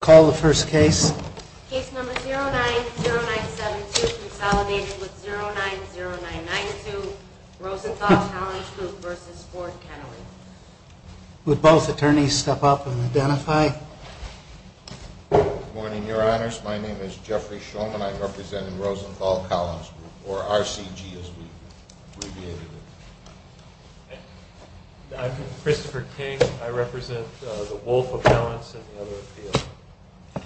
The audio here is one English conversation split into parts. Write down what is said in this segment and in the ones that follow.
Call the first case. Case number 090972, consolidated with 090992, Rosenthal Collins Group v. Ford Kennelly. Would both attorneys step up and identify? Good morning, your honors. My name is Jeffrey Shulman. I'm representing Rosenthal Collins Group, or RCG as we abbreviated it. I'm Christopher King. I represent the Wolf appellants and the other appeals. My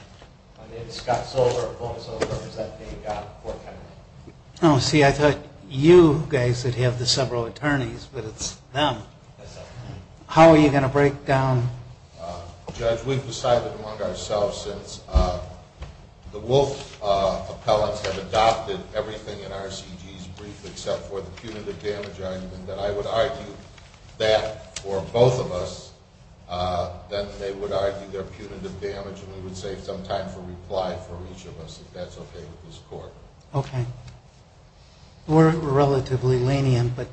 name is Scott Solver. I'm also representing Ford Kennelly. Oh, see, I thought you guys would have the several attorneys, but it's them. How are you going to break down... Judge, we've decided among ourselves since the Wolf appellants have adopted everything in RCG's brief except for the punitive damage argument that I would argue that for both of us, then they would argue their punitive damage and we would save some time for reply from each of us, if that's okay with this court. Okay. We're relatively lenient, but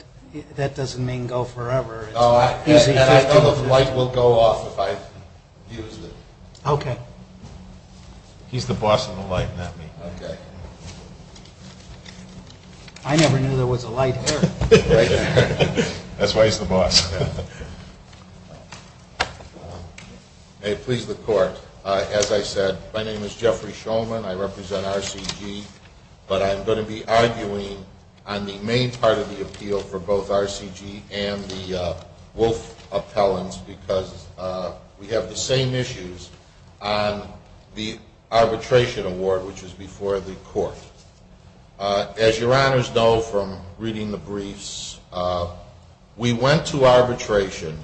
that doesn't mean go forever. Oh, and I know the light will go off if I use it. Okay. He's the boss of the light, not me. Okay. I never knew there was a light here. That's why he's the boss. May it please the court. As I said, my name is Jeffrey Shulman. I represent RCG, but I'm going to be arguing on the main part of the appeal for both RCG and the Wolf appellants because we have the same issues on the arbitration award, which is before the court. As your honors know from reading the briefs, we went to arbitration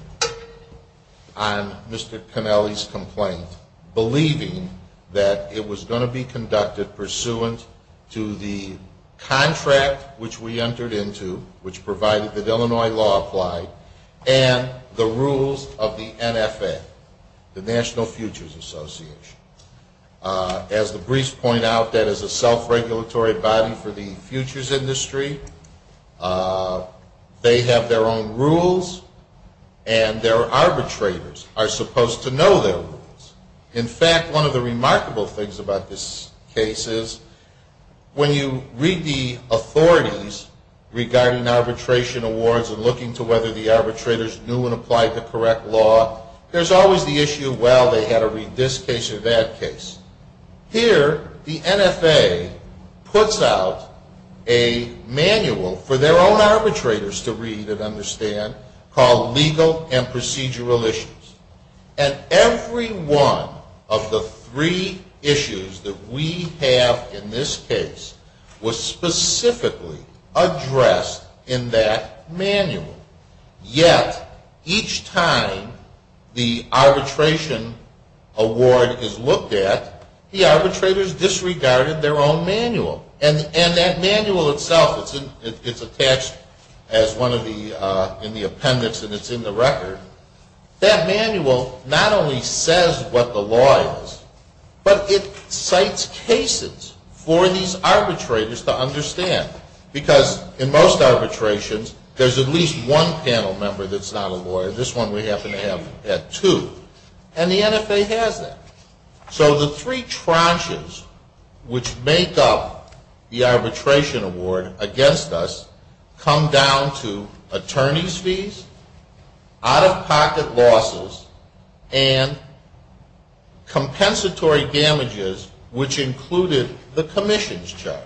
on Mr. Connelly's complaint believing that it was going to be conducted pursuant to the contract which we entered into, which provided that Illinois law applied, and the rules of the NFA, the National Futures Association. As the briefs point out, that is a self-regulatory body for the futures industry. They have their own rules, and their arbitrators are supposed to know their rules. In fact, one of the remarkable things about this case is when you read the authorities regarding arbitration awards and looking to whether the arbitrators knew and applied the correct law, there's always the issue, well, they had to read this case or they had to read that case. Here, the NFA puts out a manual for their own arbitrators to read and understand called Legal and Procedural Issues, and every one of the three issues that we have in this case was specifically addressed in that manual. Yet, each time the arbitration award is looked at, the arbitrators disregarded their own manual, and that manual itself, it's attached in the appendix and it's in the record. That manual not only says what the law is, but it cites cases for these arbitrators to understand, because in most arbitrations, there's at least one panel member that's not a lawyer. This one we happen to have had two, and the NFA has that. So the three tranches which make up the arbitration award against us come down to attorneys' fees, out-of-pocket losses, and compensatory damages, which included the commission's charge.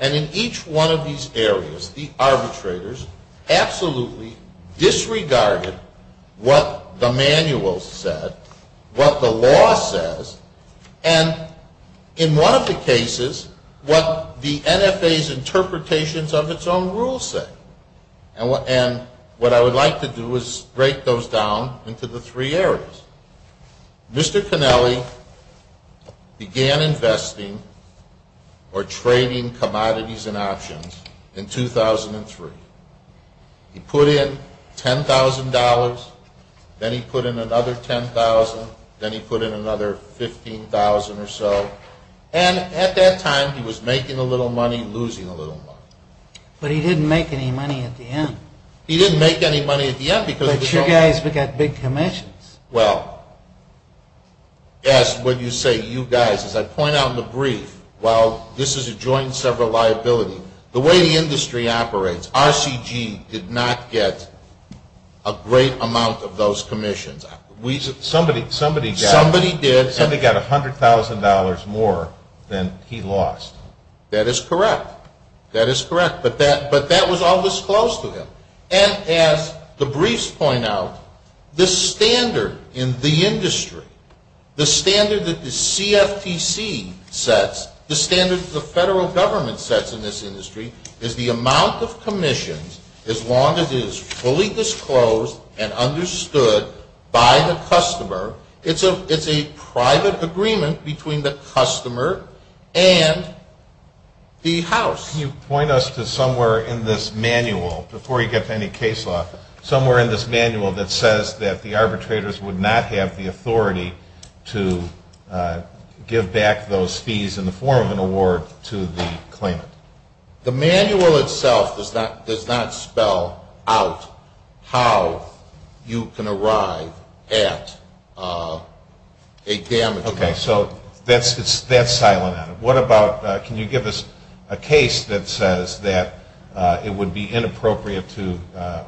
And in each one of these areas, the arbitrators absolutely disregarded what the manual said, what the law says, and in one of the cases, what the NFA's interpretations of its own rules say. And what I would like to do is break those down into the three areas. Mr. Connelly began investing or trading commodities and options in 2003. He put in $10,000, then he put in another $10,000, then he put in another $15,000 or so, and at that time, he was making a little money, losing a little money. But he didn't make any money at the end. He didn't make any money at the end because... But you guys got big commissions. Well, yes, when you say you guys, as I point out in the brief, while this is a joint and several liability, the way the industry operates, RCG did not get a great amount of those commissions. Somebody got... Somebody did. Somebody got $100,000 more than he lost. That is correct. That is correct. But that was all disclosed to him. And as the briefs point out, the standard in the industry, the standard that the CFTC sets, the standard that the federal government sets in this industry is the amount of commissions, as long as it is fully disclosed and understood by the customer. It's a private agreement between the customer and the house. Can you point us to somewhere in this manual, before you get to any case law, somewhere in this manual that says that the arbitrators would not have the authority to give back those fees in the form of an award to the claimant? The manual itself does not spell out how you can arrive at a damage amount. Okay, so that's silent on it. What about, can you give us a case that says that it would be inappropriate to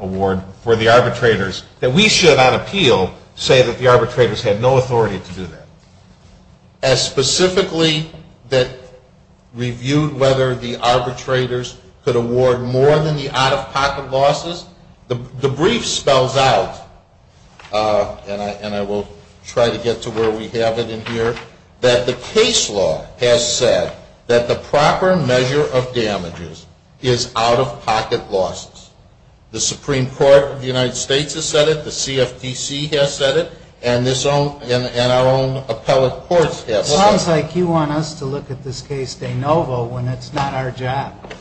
award for the arbitrators, that we should on appeal say that the arbitrators had no authority to do that? As specifically that reviewed whether the arbitrators could award more than the out-of-pocket losses? The brief spells out, and I will try to get to where we have it in here, that the case law has said that the proper measure of damages is out-of-pocket losses. The Supreme Court of the United States has said it, the CFTC has said it, and our own appellate courts have said it. It sounds like you want us to look at this case de novo when it's not our job.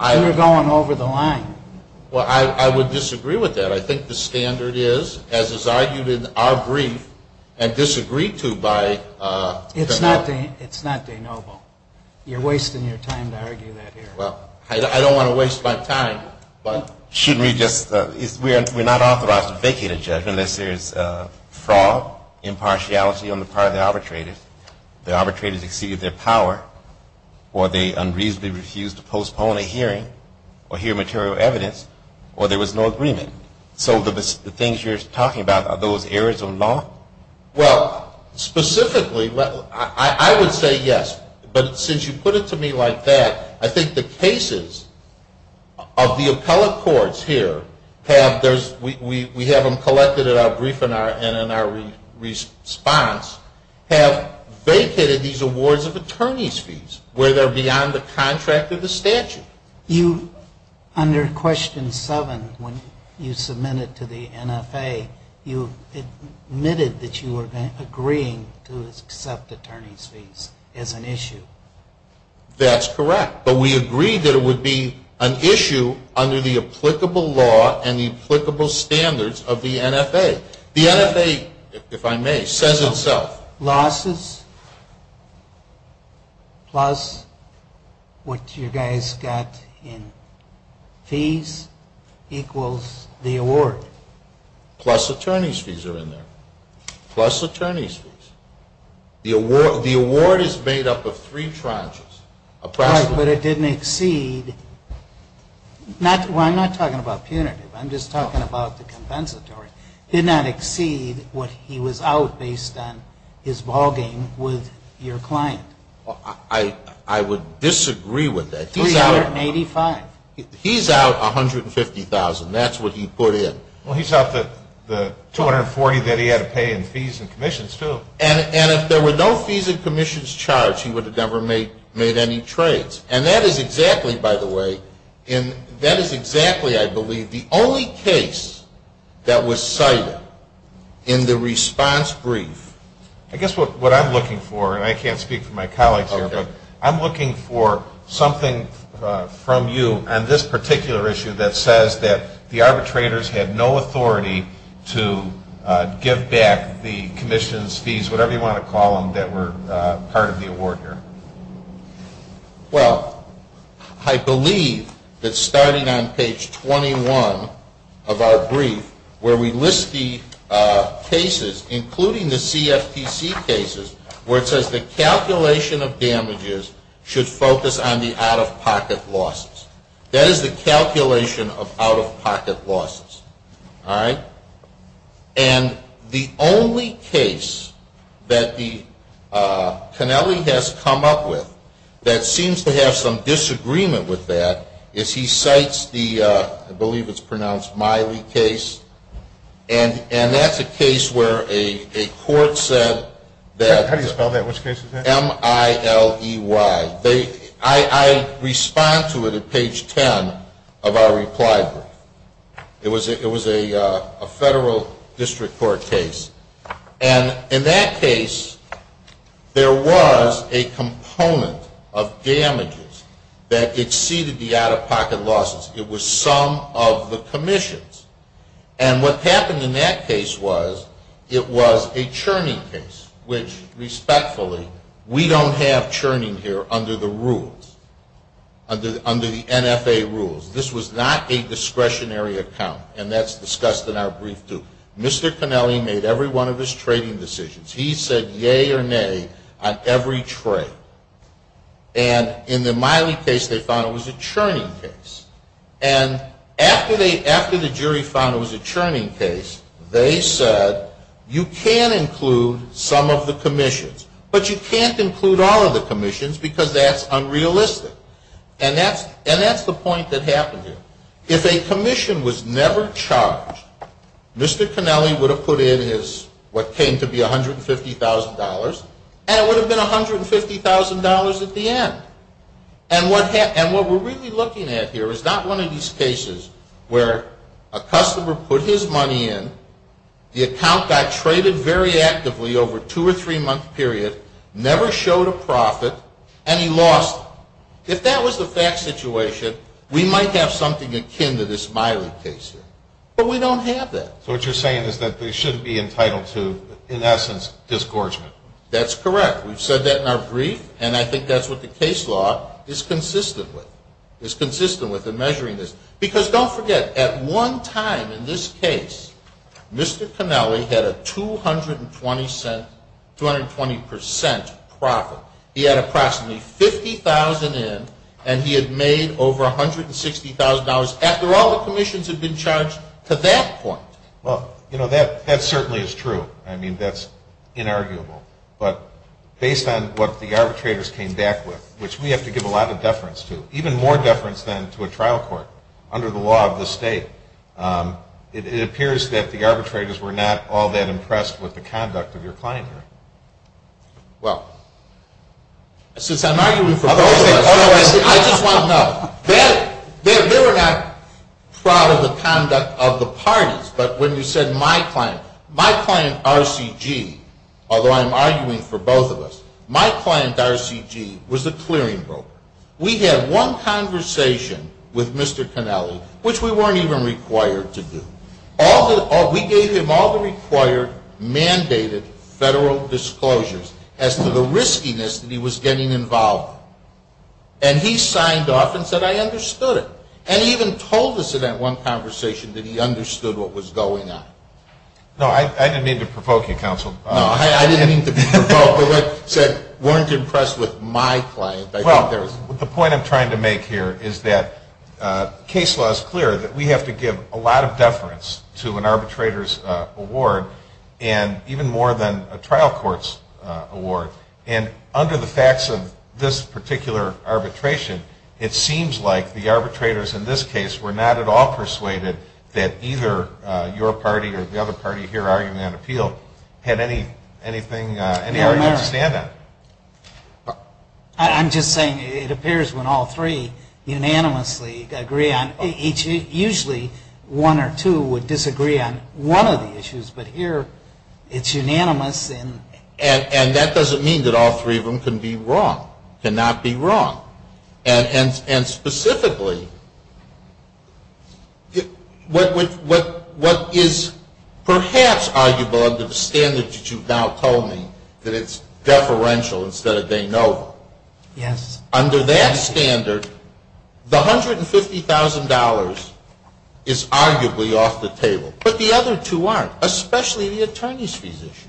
We're going over the line. Well, I would disagree with that. I think the standard is, as is argued in our brief, and disagreed to by the court. It's not de novo. You're wasting your time to argue that here. Well, I don't want to waste my time, but. Shouldn't we just, we're not authorized to vacate a judgment unless there's fraud, impartiality on the part of the arbitrators. The arbitrators exceeded their power, or they unreasonably refused to postpone a hearing, or hear material evidence, or there was no agreement. So the things you're talking about, are those errors of law? Well, specifically, I would say yes. But since you put it to me like that, I think the cases of the appellate courts here have, we have them collected in our brief and in our response, have vacated these awards of attorney's fees where they're beyond the contract of the statute. You, under question seven, when you submitted to the NFA, you admitted that you were agreeing to accept attorney's fees as an issue. That's correct. But we agreed that it would be an issue under the applicable law and the applicable standards of the NFA. The NFA, if I may, says itself. Losses plus what you guys got in fees equals the award. Plus attorney's fees are in there. Plus attorney's fees. The award is made up of three tranches. Right, but it didn't exceed, well, I'm not talking about punitive. I'm just talking about the compensatory. Did not exceed what he was out based on his ballgame with your client. I would disagree with that. $385,000. He's out $150,000. That's what he put in. Well, he's out the $240,000 that he had to pay in fees and commissions, too. And if there were no fees and commissions charged, he would have never made any trades. And that is exactly, by the way, that is exactly, I believe, the only case that was cited in the response brief. I guess what I'm looking for, and I can't speak for my colleagues here, but I'm looking for something from you on this particular issue that says that the arbitrators had no authority to give back the commissions, fees, whatever you want to call them, that were part of the award here. Well, I believe that starting on page 21 of our brief where we list the cases, including the CFTC cases, where it says the calculation of damages should focus on the out-of-pocket losses. That is the calculation of out-of-pocket losses. All right? And the only case that the Kennelly has come up with that seems to have some disagreement with that is he cites the, I believe it's pronounced Miley case, and that's a case where a court said that. How do you spell that? Which case is that? M-I-L-E-Y. I respond to it at page 10 of our reply brief. It was a federal district court case. And in that case, there was a component of damages that exceeded the out-of-pocket losses. It was some of the commissions. And what happened in that case was it was a churning case, which respectfully, we don't have churning here under the rules, under the NFA rules. This was not a discretionary account, and that's discussed in our brief too. Mr. Kennelly made every one of his trading decisions. He said yay or nay on every trade. And in the Miley case, they found it was a churning case. And after the jury found it was a churning case, they said you can include some of the commissions, but you can't include all of the commissions because that's unrealistic. And that's the point that happened here. If a commission was never charged, Mr. Kennelly would have put in his what came to be $150,000, and it would have been $150,000 at the end. And what we're really looking at here is not one of these cases where a customer put his money in, the account got traded very actively over a two- or three-month period, never showed a profit, and he lost it. If that was the fact situation, we might have something akin to this Miley case here. But we don't have that. So what you're saying is that they shouldn't be entitled to, in essence, disgorgement. That's correct. We've said that in our brief, and I think that's what the case law is consistent with, is consistent with in measuring this. Because don't forget, at one time in this case, Mr. Kennelly had a 220% profit. He had approximately $50,000 in, and he had made over $160,000 after all the commissions had been charged to that point. Well, you know, that certainly is true. I mean, that's inarguable. But based on what the arbitrators came back with, which we have to give a lot of deference to, even more deference than to a trial court under the law of the state, it appears that the arbitrators were not all that impressed with the conduct of your client here. Well, since I'm arguing for both of us, I just want to know. They were not proud of the conduct of the parties, but when you said my client, my client RCG, although I'm arguing for both of us, my client RCG was the clearing broker. We had one conversation with Mr. Kennelly, which we weren't even required to do. We gave him all the required mandated federal disclosures as to the riskiness that he was getting involved. And he signed off and said, I understood it. And he even told us in that one conversation that he understood what was going on. No, I didn't mean to provoke you, counsel. No, I didn't mean to provoke. But what I said, weren't impressed with my client. The point I'm trying to make here is that case law is clear that we have to give a lot of deference to an arbitrator's award and even more than a trial court's award. And under the facts of this particular arbitration, it seems like the arbitrators in this case were not at all persuaded that either your party or the other party here arguing on appeal had anything to stand on. I'm just saying it appears when all three unanimously agree on each, usually one or two would disagree on one of the issues. But here it's unanimous. And that doesn't mean that all three of them can be wrong, cannot be wrong. And specifically, what is perhaps arguable under the standards that you've now told me, that it's deferential instead of de novo. Yes. Under that standard, the $150,000 is arguably off the table. But the other two aren't, especially the attorney's fees issue,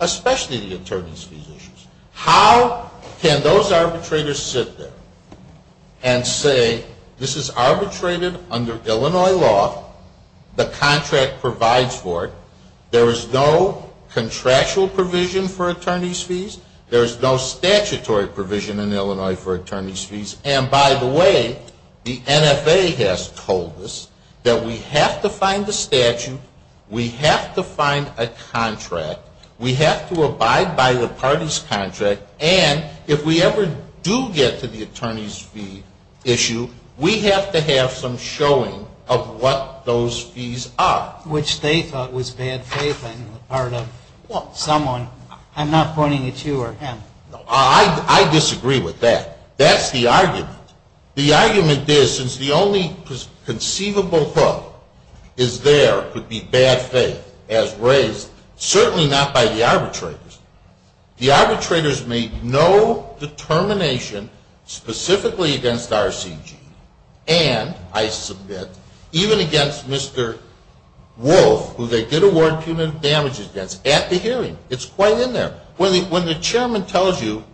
especially the attorney's fees issues. How can those arbitrators sit there and say this is arbitrated under Illinois law, the contract provides for it, there is no contractual provision for attorney's fees, there is no statutory provision in Illinois for attorney's fees, and by the way, the NFA has told us that we have to find the statute, we have to find a contract, we have to abide by the party's contract, and if we ever do get to the attorney's fee issue, we have to have some showing of what those fees are. Which they thought was bad faith on the part of someone. I'm not pointing at you or him. I disagree with that. That's the argument. The argument is since the only conceivable problem is there could be bad faith as raised, certainly not by the arbitrators. The arbitrators made no determination specifically against RCG and, I submit, even against Mr. Wolf, who they did award punitive damages against, at the hearing. It's quite in there. When the chairman tells you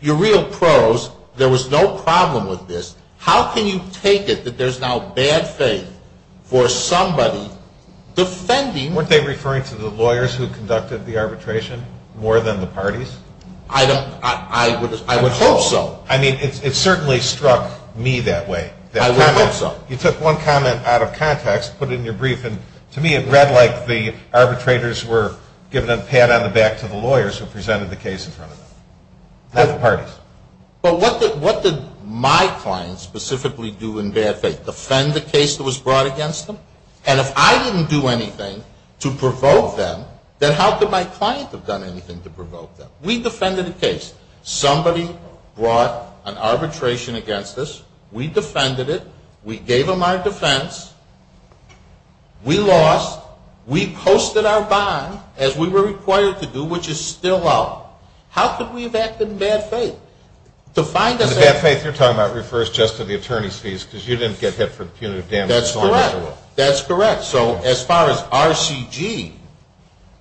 you're real pros, there was no problem with this, how can you take it that there's now bad faith for somebody defending. Weren't they referring to the lawyers who conducted the arbitration more than the parties? I would hope so. I mean, it certainly struck me that way. I would hope so. You took one comment out of context, put it in your brief, and to me it read like the arbitrators were giving a pat on the back to the lawyers who presented the case in front of them, not the parties. But what did my clients specifically do in bad faith? Defend the case that was brought against them? And if I didn't do anything to provoke them, then how could my client have done anything to provoke them? We defended the case. Somebody brought an arbitration against us. We defended it. We gave them our defense. We lost. We posted our bond, as we were required to do, which is still out. How could we have acted in bad faith? And the bad faith you're talking about refers just to the attorney's fees because you didn't get hit for punitive damages. That's correct. That's correct. So as far as RCG,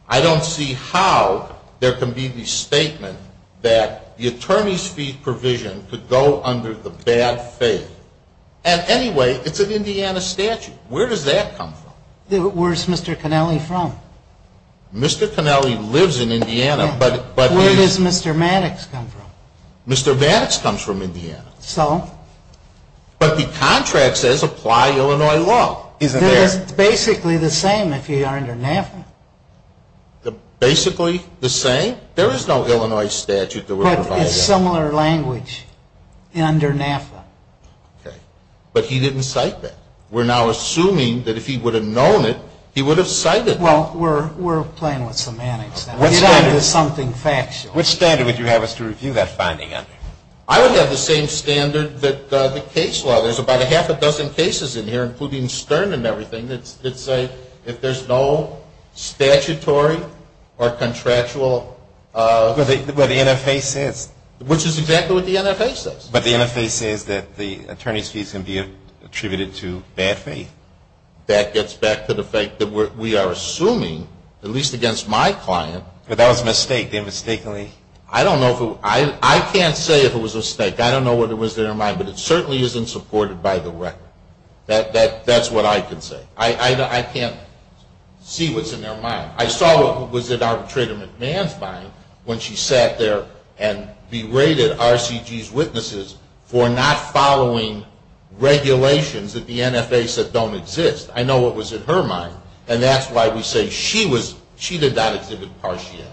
I don't see how there can be the statement that the attorney's fee provision could go under the bad faith. And anyway, it's an Indiana statute. Where does that come from? Where's Mr. Connelly from? Mr. Connelly lives in Indiana, but he's… Where does Mr. Maddox come from? Mr. Maddox comes from Indiana. So? But the contract says apply Illinois law. Isn't there? It's basically the same if you are under NAFTA. Basically the same? There is no Illinois statute that would provide that. But it's similar language under NAFTA. Okay. But he didn't cite that. We're now assuming that if he would have known it, he would have cited it. Well, we're playing with semantics now. He's on to something factual. What standard would you have us to review that finding under? I would have the same standard that the case law. There's about a half a dozen cases in here, including Stern and everything, that say if there's no statutory or contractual… But the NFA says… Which is exactly what the NFA says. But the NFA says that the attorney's fees can be attributed to bad faith. That gets back to the fact that we are assuming, at least against my client… But that was a mistake. They mistakenly… I can't say if it was a mistake. I don't know what was in her mind, but it certainly isn't supported by the record. That's what I can say. I can't see what's in their mind. I saw what was in Arbitrator McMahon's mind when she sat there and berated RCG's witnesses for not following regulations that the NFA said don't exist. I know what was in her mind. And that's why we say she did not exhibit partiality.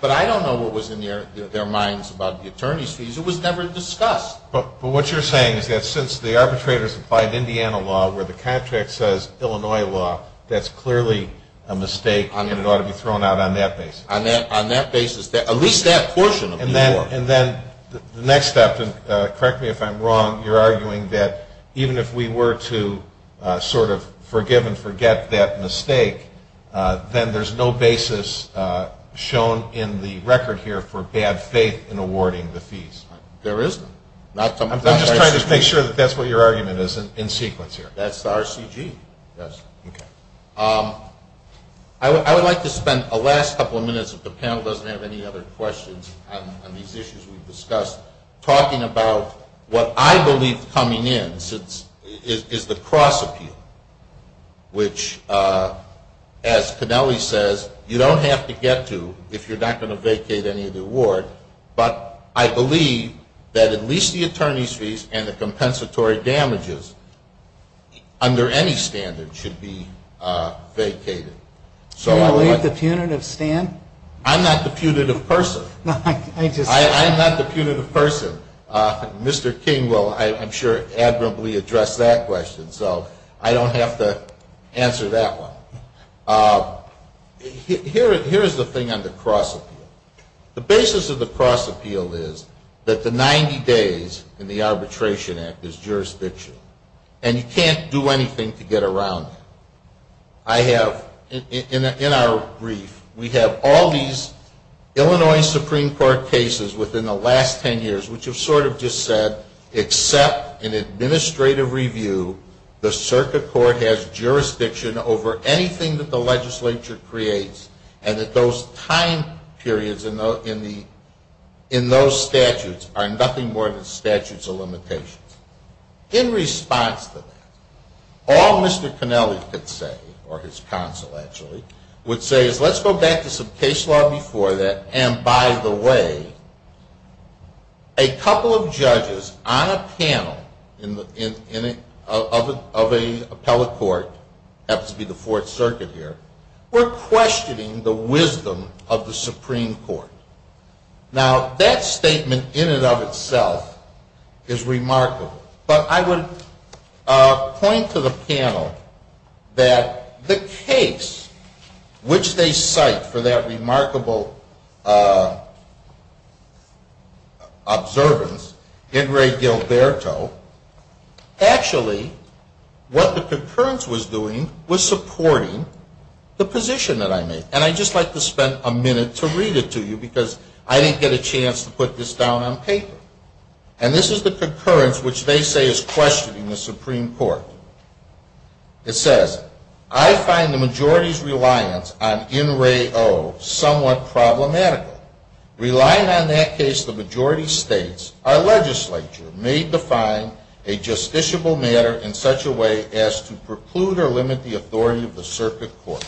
But I don't know what was in their minds about the attorney's fees. It was never discussed. But what you're saying is that since the arbitrators applied Indiana law, where the contract says Illinois law, that's clearly a mistake and it ought to be thrown out on that basis. On that basis. At least that portion of the law. And then the next step, and correct me if I'm wrong, you're arguing that even if we were to sort of forgive and forget that mistake, then there's no basis shown in the record here for bad faith in awarding the fees. There isn't. I'm just trying to make sure that that's what your argument is in sequence here. That's the RCG. I would like to spend the last couple of minutes, if the panel doesn't have any other questions on these issues we've discussed, talking about what I believe coming in is the cross-appeal, which, as Kennelly says, you don't have to get to if you're not going to vacate any of the award. But I believe that at least the attorney's fees and the compensatory damages, under any standard, should be vacated. Do you believe the punitive stand? I'm not the punitive person. I'm not the punitive person. Mr. King will, I'm sure, admirably address that question, so I don't have to answer that one. Here is the thing on the cross-appeal. The basis of the cross-appeal is that the 90 days in the Arbitration Act is jurisdiction, and you can't do anything to get around it. I have, in our brief, we have all these Illinois Supreme Court cases within the last 10 years, which have sort of just said, except in administrative review, the circuit court has jurisdiction over anything that the legislature creates, and that those time periods in those statutes are nothing more than statutes of limitations. In response to that, all Mr. Connelly could say, or his counsel actually, would say is let's go back to some case law before that, and by the way, a couple of judges on a panel of an appellate court, happens to be the Fourth Circuit here, were questioning the wisdom of the Supreme Court. Now, that statement in and of itself is remarkable, but I would point to the panel that the case which they cite for that remarkable observance, Ingray-Gilberto, actually what the concurrence was doing was supporting the position that I made, and I'd just like to spend a minute to read it to you, because I didn't get a chance to put this down on paper. And this is the concurrence which they say is questioning the Supreme Court. It says, I find the majority's reliance on Ingray-O somewhat problematical. Relying on that case, the majority states, our legislature may define a justiciable matter in such a way as to preclude or limit the authority of the circuit court.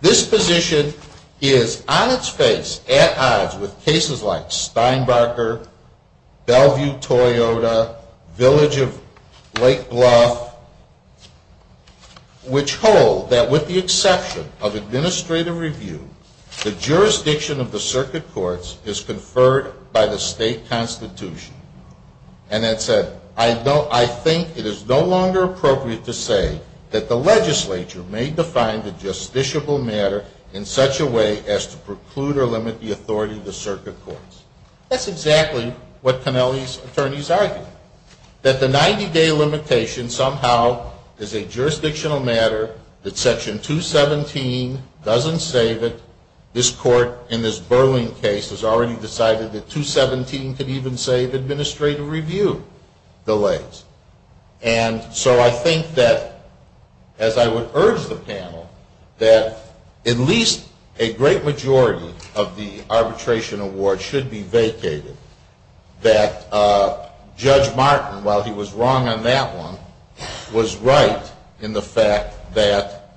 This position is on its face at odds with cases like Steinbarker, Bellevue-Toyota, Village of Lake Bluff, which hold that with the exception of administrative review, the jurisdiction of the circuit courts is conferred by the state constitution. And it said, I think it is no longer appropriate to say that the legislature may define the justiciable matter in such a way as to preclude or limit the authority of the circuit courts. That's exactly what Connelly's attorneys argued. That the 90-day limitation somehow is a jurisdictional matter, that Section 217 doesn't save it. This court in this Burling case has already decided that 217 could even save administrative review delays. And so I think that, as I would urge the panel, that at least a great majority of the arbitration award should be vacated. That Judge Martin, while he was wrong on that one, was right in the fact that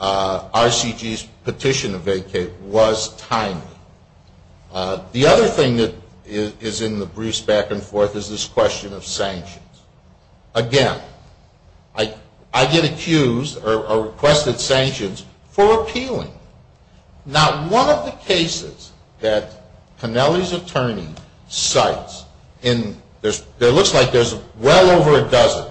RCG's petition to vacate was timely. The other thing that is in the briefs back and forth is this question of sanctions. Again, I get accused or requested sanctions for appealing. Not one of the cases that Connelly's attorney cites, and it looks like there's well over a dozen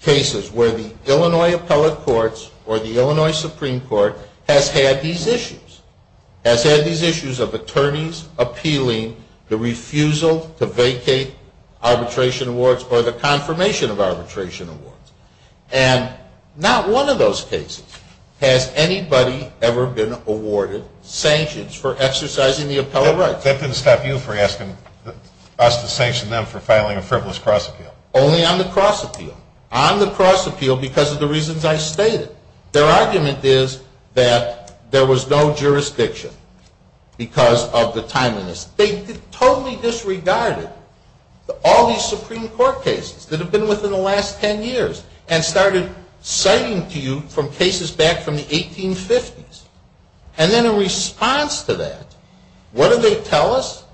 cases where the Illinois Appellate Courts or the Illinois Supreme Court has had these issues. Has had these issues of attorneys appealing the refusal to vacate arbitration awards or the confirmation of arbitration awards. And not one of those cases has anybody ever been awarded sanctions for exercising the appellate rights. That didn't stop you from asking us to sanction them for filing a frivolous cross appeal. Only on the cross appeal. On the cross appeal because of the reasons I stated. Their argument is that there was no jurisdiction because of the timeliness. They totally disregarded all these Supreme Court cases that have been within the last ten years and started citing to you from cases back from the 1850s. And then in response to that, what do they tell us?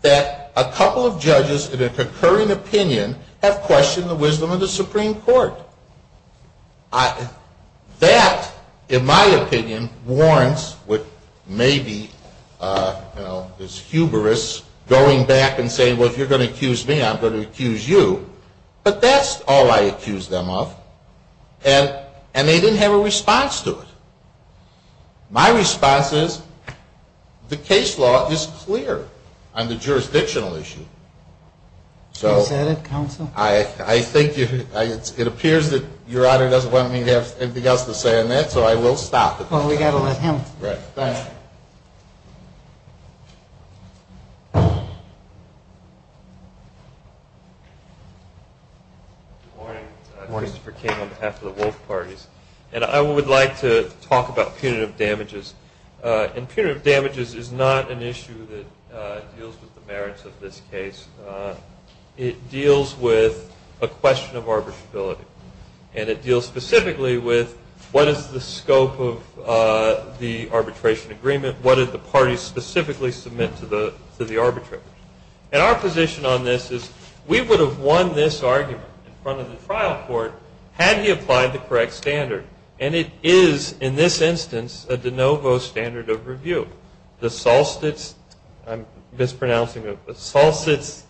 That a couple of judges in a concurring opinion have questioned the wisdom of the Supreme Court. That, in my opinion, warrants what maybe is hubris going back and saying, well, if you're going to accuse me, I'm going to accuse you. But that's all I accuse them of. And they didn't have a response to it. My response is the case law is clear on the jurisdictional issue. You said it, counsel. I think it appears that Your Honor doesn't want me to have anything else to say on that, so I will stop. Well, we've got to let him. Right. Thanks. Good morning. Christopher King on behalf of the Wolf Parties. And I would like to talk about punitive damages. And punitive damages is not an issue that deals with the merits of this case. It deals with a question of arbitrability. And it deals specifically with what is the scope of the arbitration agreement? What did the parties specifically submit to the arbitrator? And our position on this is we would have won this argument in front of the trial court had he applied the correct standard. And it is, in this instance, a de novo standard of review. The Solstice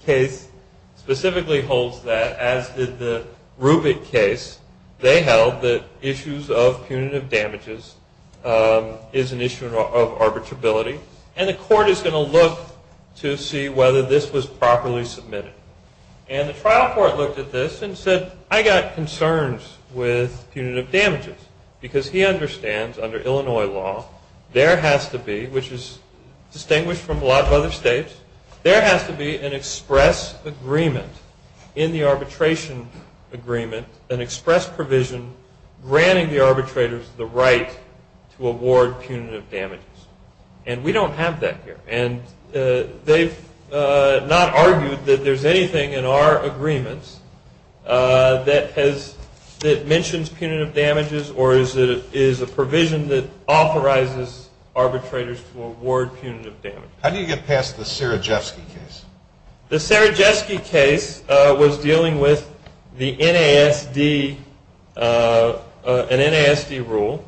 case specifically holds that, as did the Rubic case. They held that issues of punitive damages is an issue of arbitrability. And the court is going to look to see whether this was properly submitted. And the trial court looked at this and said, I've got concerns with punitive damages. Because he understands, under Illinois law, there has to be, which is distinguished from a lot of other states, there has to be an express agreement in the arbitration agreement, an express provision granting the arbitrators the right to award punitive damages. And we don't have that here. And they've not argued that there's anything in our agreements that mentions punitive damages or is a provision that authorizes arbitrators to award punitive damages. How do you get past the Serejewski case? The Serejewski case was dealing with the NASD, an NASD rule.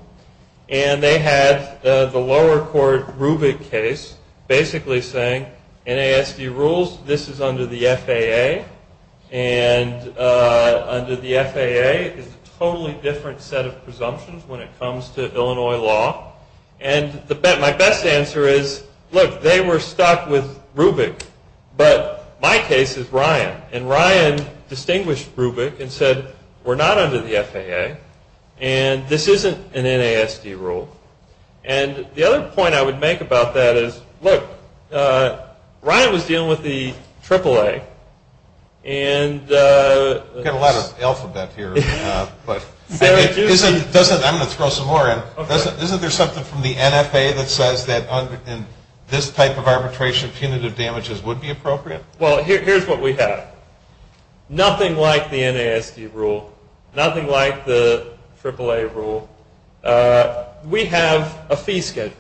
And they had the lower court Rubic case basically saying, NASD rules, this is under the FAA. And under the FAA is a totally different set of presumptions when it comes to Illinois law. And my best answer is, look, they were stuck with Rubic. But my case is Ryan. And Ryan distinguished Rubic and said, we're not under the FAA. And this isn't an NASD rule. And the other point I would make about that is, look, Ryan was dealing with the AAA. We've got a lot of alphabet here. I'm going to throw some more in. Isn't there something from the NFA that says that this type of arbitration of punitive damages would be appropriate? Well, here's what we have. Nothing like the NASD rule. Nothing like the AAA rule. We have a fee schedule.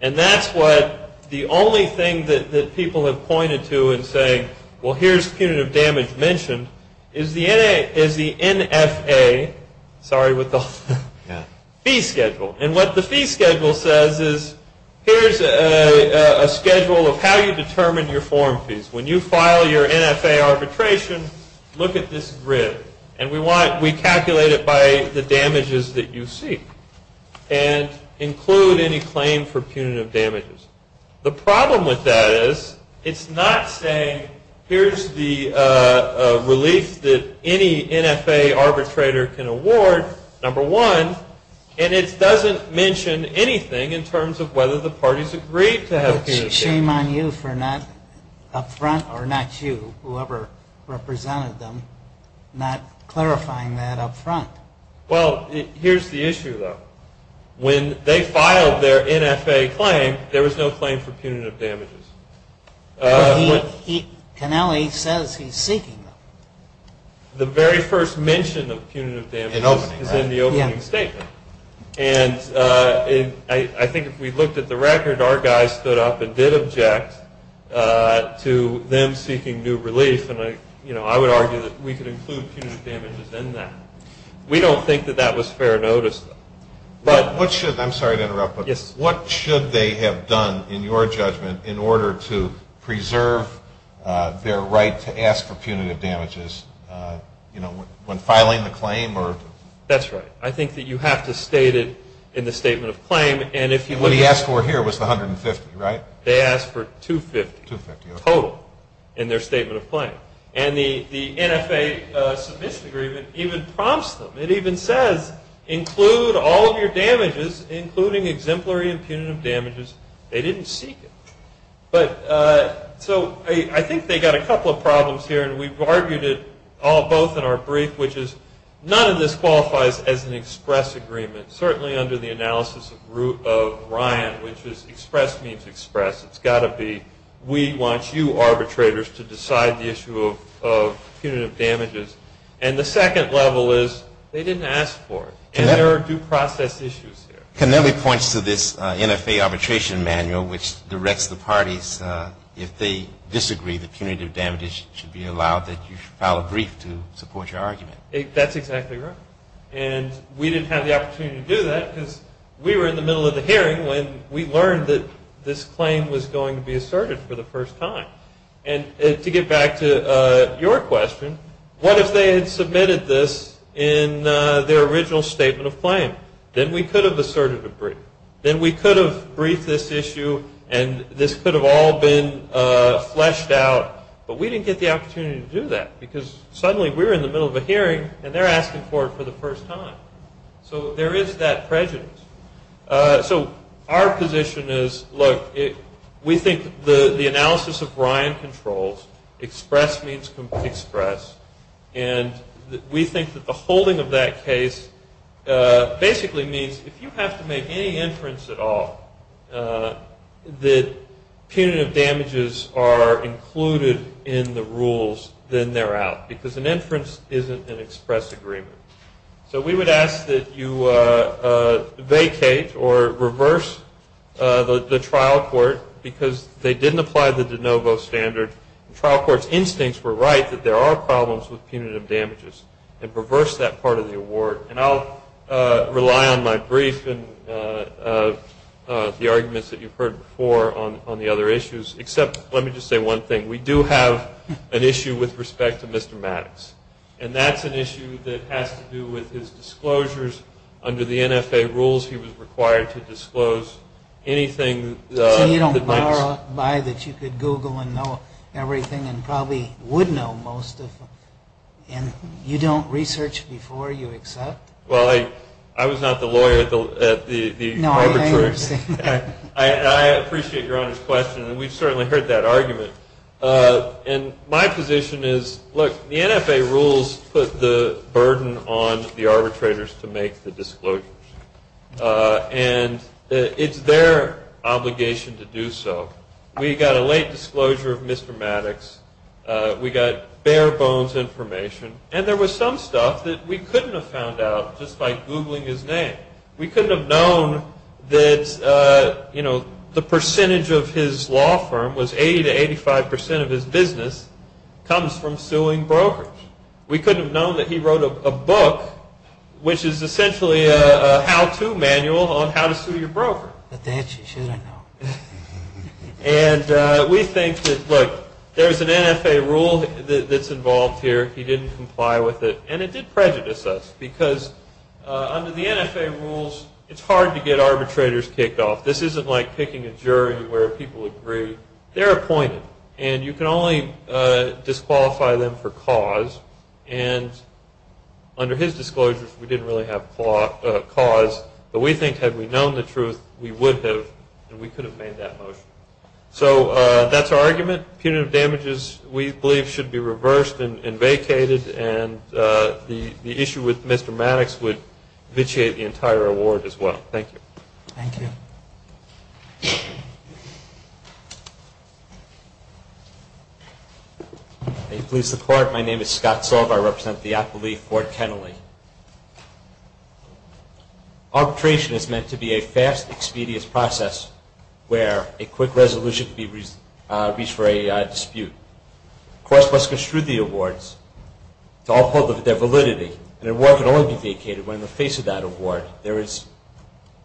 And that's what the only thing that people have pointed to in saying, well, here's punitive damage mentioned, is the NFA fee schedule. And what the fee schedule says is, here's a schedule of how you determine your form fees. When you file your NFA arbitration, look at this grid. And we calculate it by the damages that you see and include any claim for punitive damages. The problem with that is, it's not saying, here's the relief that any NFA arbitrator can award, number one. And it doesn't mention anything in terms of whether the parties agreed to have punitive damages. Shame on you for not up front, or not you, whoever represented them, not clarifying that up front. Well, here's the issue, though. When they filed their NFA claim, there was no claim for punitive damages. But Canelli says he's seeking them. The very first mention of punitive damages is in the opening statement. And I think if we looked at the record, our guys stood up and did object to them seeking new relief. And I would argue that we could include punitive damages in that. We don't think that that was fair notice. I'm sorry to interrupt, but what should they have done, in your judgment, in order to preserve their right to ask for punitive damages when filing the claim? That's right. I think that you have to state it in the statement of claim. And what he asked for here was the $150,000, right? They asked for $250,000 total in their statement of claim. And the NFA submission agreement even prompts them. It even says, include all of your damages, including exemplary and punitive damages. They didn't seek it. So I think they got a couple of problems here. And we've argued it all both in our brief, which is none of this qualifies as an express agreement, certainly under the analysis of Ryan, which is express means express. It's got to be we want you arbitrators to decide the issue of punitive damages. And the second level is they didn't ask for it. And there are due process issues here. Connelly points to this NFA arbitration manual, which directs the parties, if they disagree that punitive damages should be allowed, that you file a brief to support your argument. That's exactly right. And we didn't have the opportunity to do that because we were in the middle of the hearing when we learned that this claim was going to be asserted for the first time. And to get back to your question, what if they had submitted this in their original statement of claim? Then we could have asserted a brief. Then we could have briefed this issue. And this could have all been fleshed out. But we didn't get the opportunity to do that because suddenly we were in the middle of a hearing and they're asking for it for the first time. So there is that prejudice. So our position is, look, we think the analysis of Ryan controls. Express means express. And we think that the holding of that case basically means if you have to make any inference at all that punitive damages are included in the rules, then they're out. Because an inference isn't an express agreement. So we would ask that you vacate or reverse the trial court because they didn't apply the de novo standard. The trial court's instincts were right that there are problems with punitive damages. And reverse that part of the award. And I'll rely on my brief and the arguments that you've heard before on the other issues. Except let me just say one thing. We do have an issue with respect to Mr. Maddox. And that's an issue that has to do with his disclosures under the NFA rules. He was required to disclose anything that might be. I thought by that you could Google and know everything and probably would know most of them. And you don't research before you accept? Well, I was not the lawyer at the arbitration. No, I understand. I appreciate your Honor's question. And we've certainly heard that argument. And my position is, look, the NFA rules put the burden on the arbitrators to make the disclosures. And it's their obligation to do so. We got a late disclosure of Mr. Maddox. We got bare bones information. And there was some stuff that we couldn't have found out just by Googling his name. We couldn't have known that the percentage of his law firm was 80 to 85 percent of his business comes from suing brokers. We couldn't have known that he wrote a book, which is essentially a how-to manual on how to sue your broker. But that you should have known. And we think that, look, there's an NFA rule that's involved here. He didn't comply with it. And it did prejudice us because under the NFA rules, it's hard to get arbitrators kicked off. This isn't like picking a jury where people agree. They're appointed. And you can only disqualify them for cause. And under his disclosures, we didn't really have cause. But we think had we known the truth, we would have, and we could have made that motion. So that's our argument. Punitive damages, we believe, should be reversed and vacated. And the issue with Mr. Maddox would vitiate the entire award as well. Thank you. Thank you. May it please the Court. My name is Scott Solver. I represent the appellee, Ford Kennelly. Arbitration is meant to be a fast, expeditious process where a quick resolution can be reached for a dispute. The court must construe the awards to all public validity. An award can only be vacated when in the face of that award, there is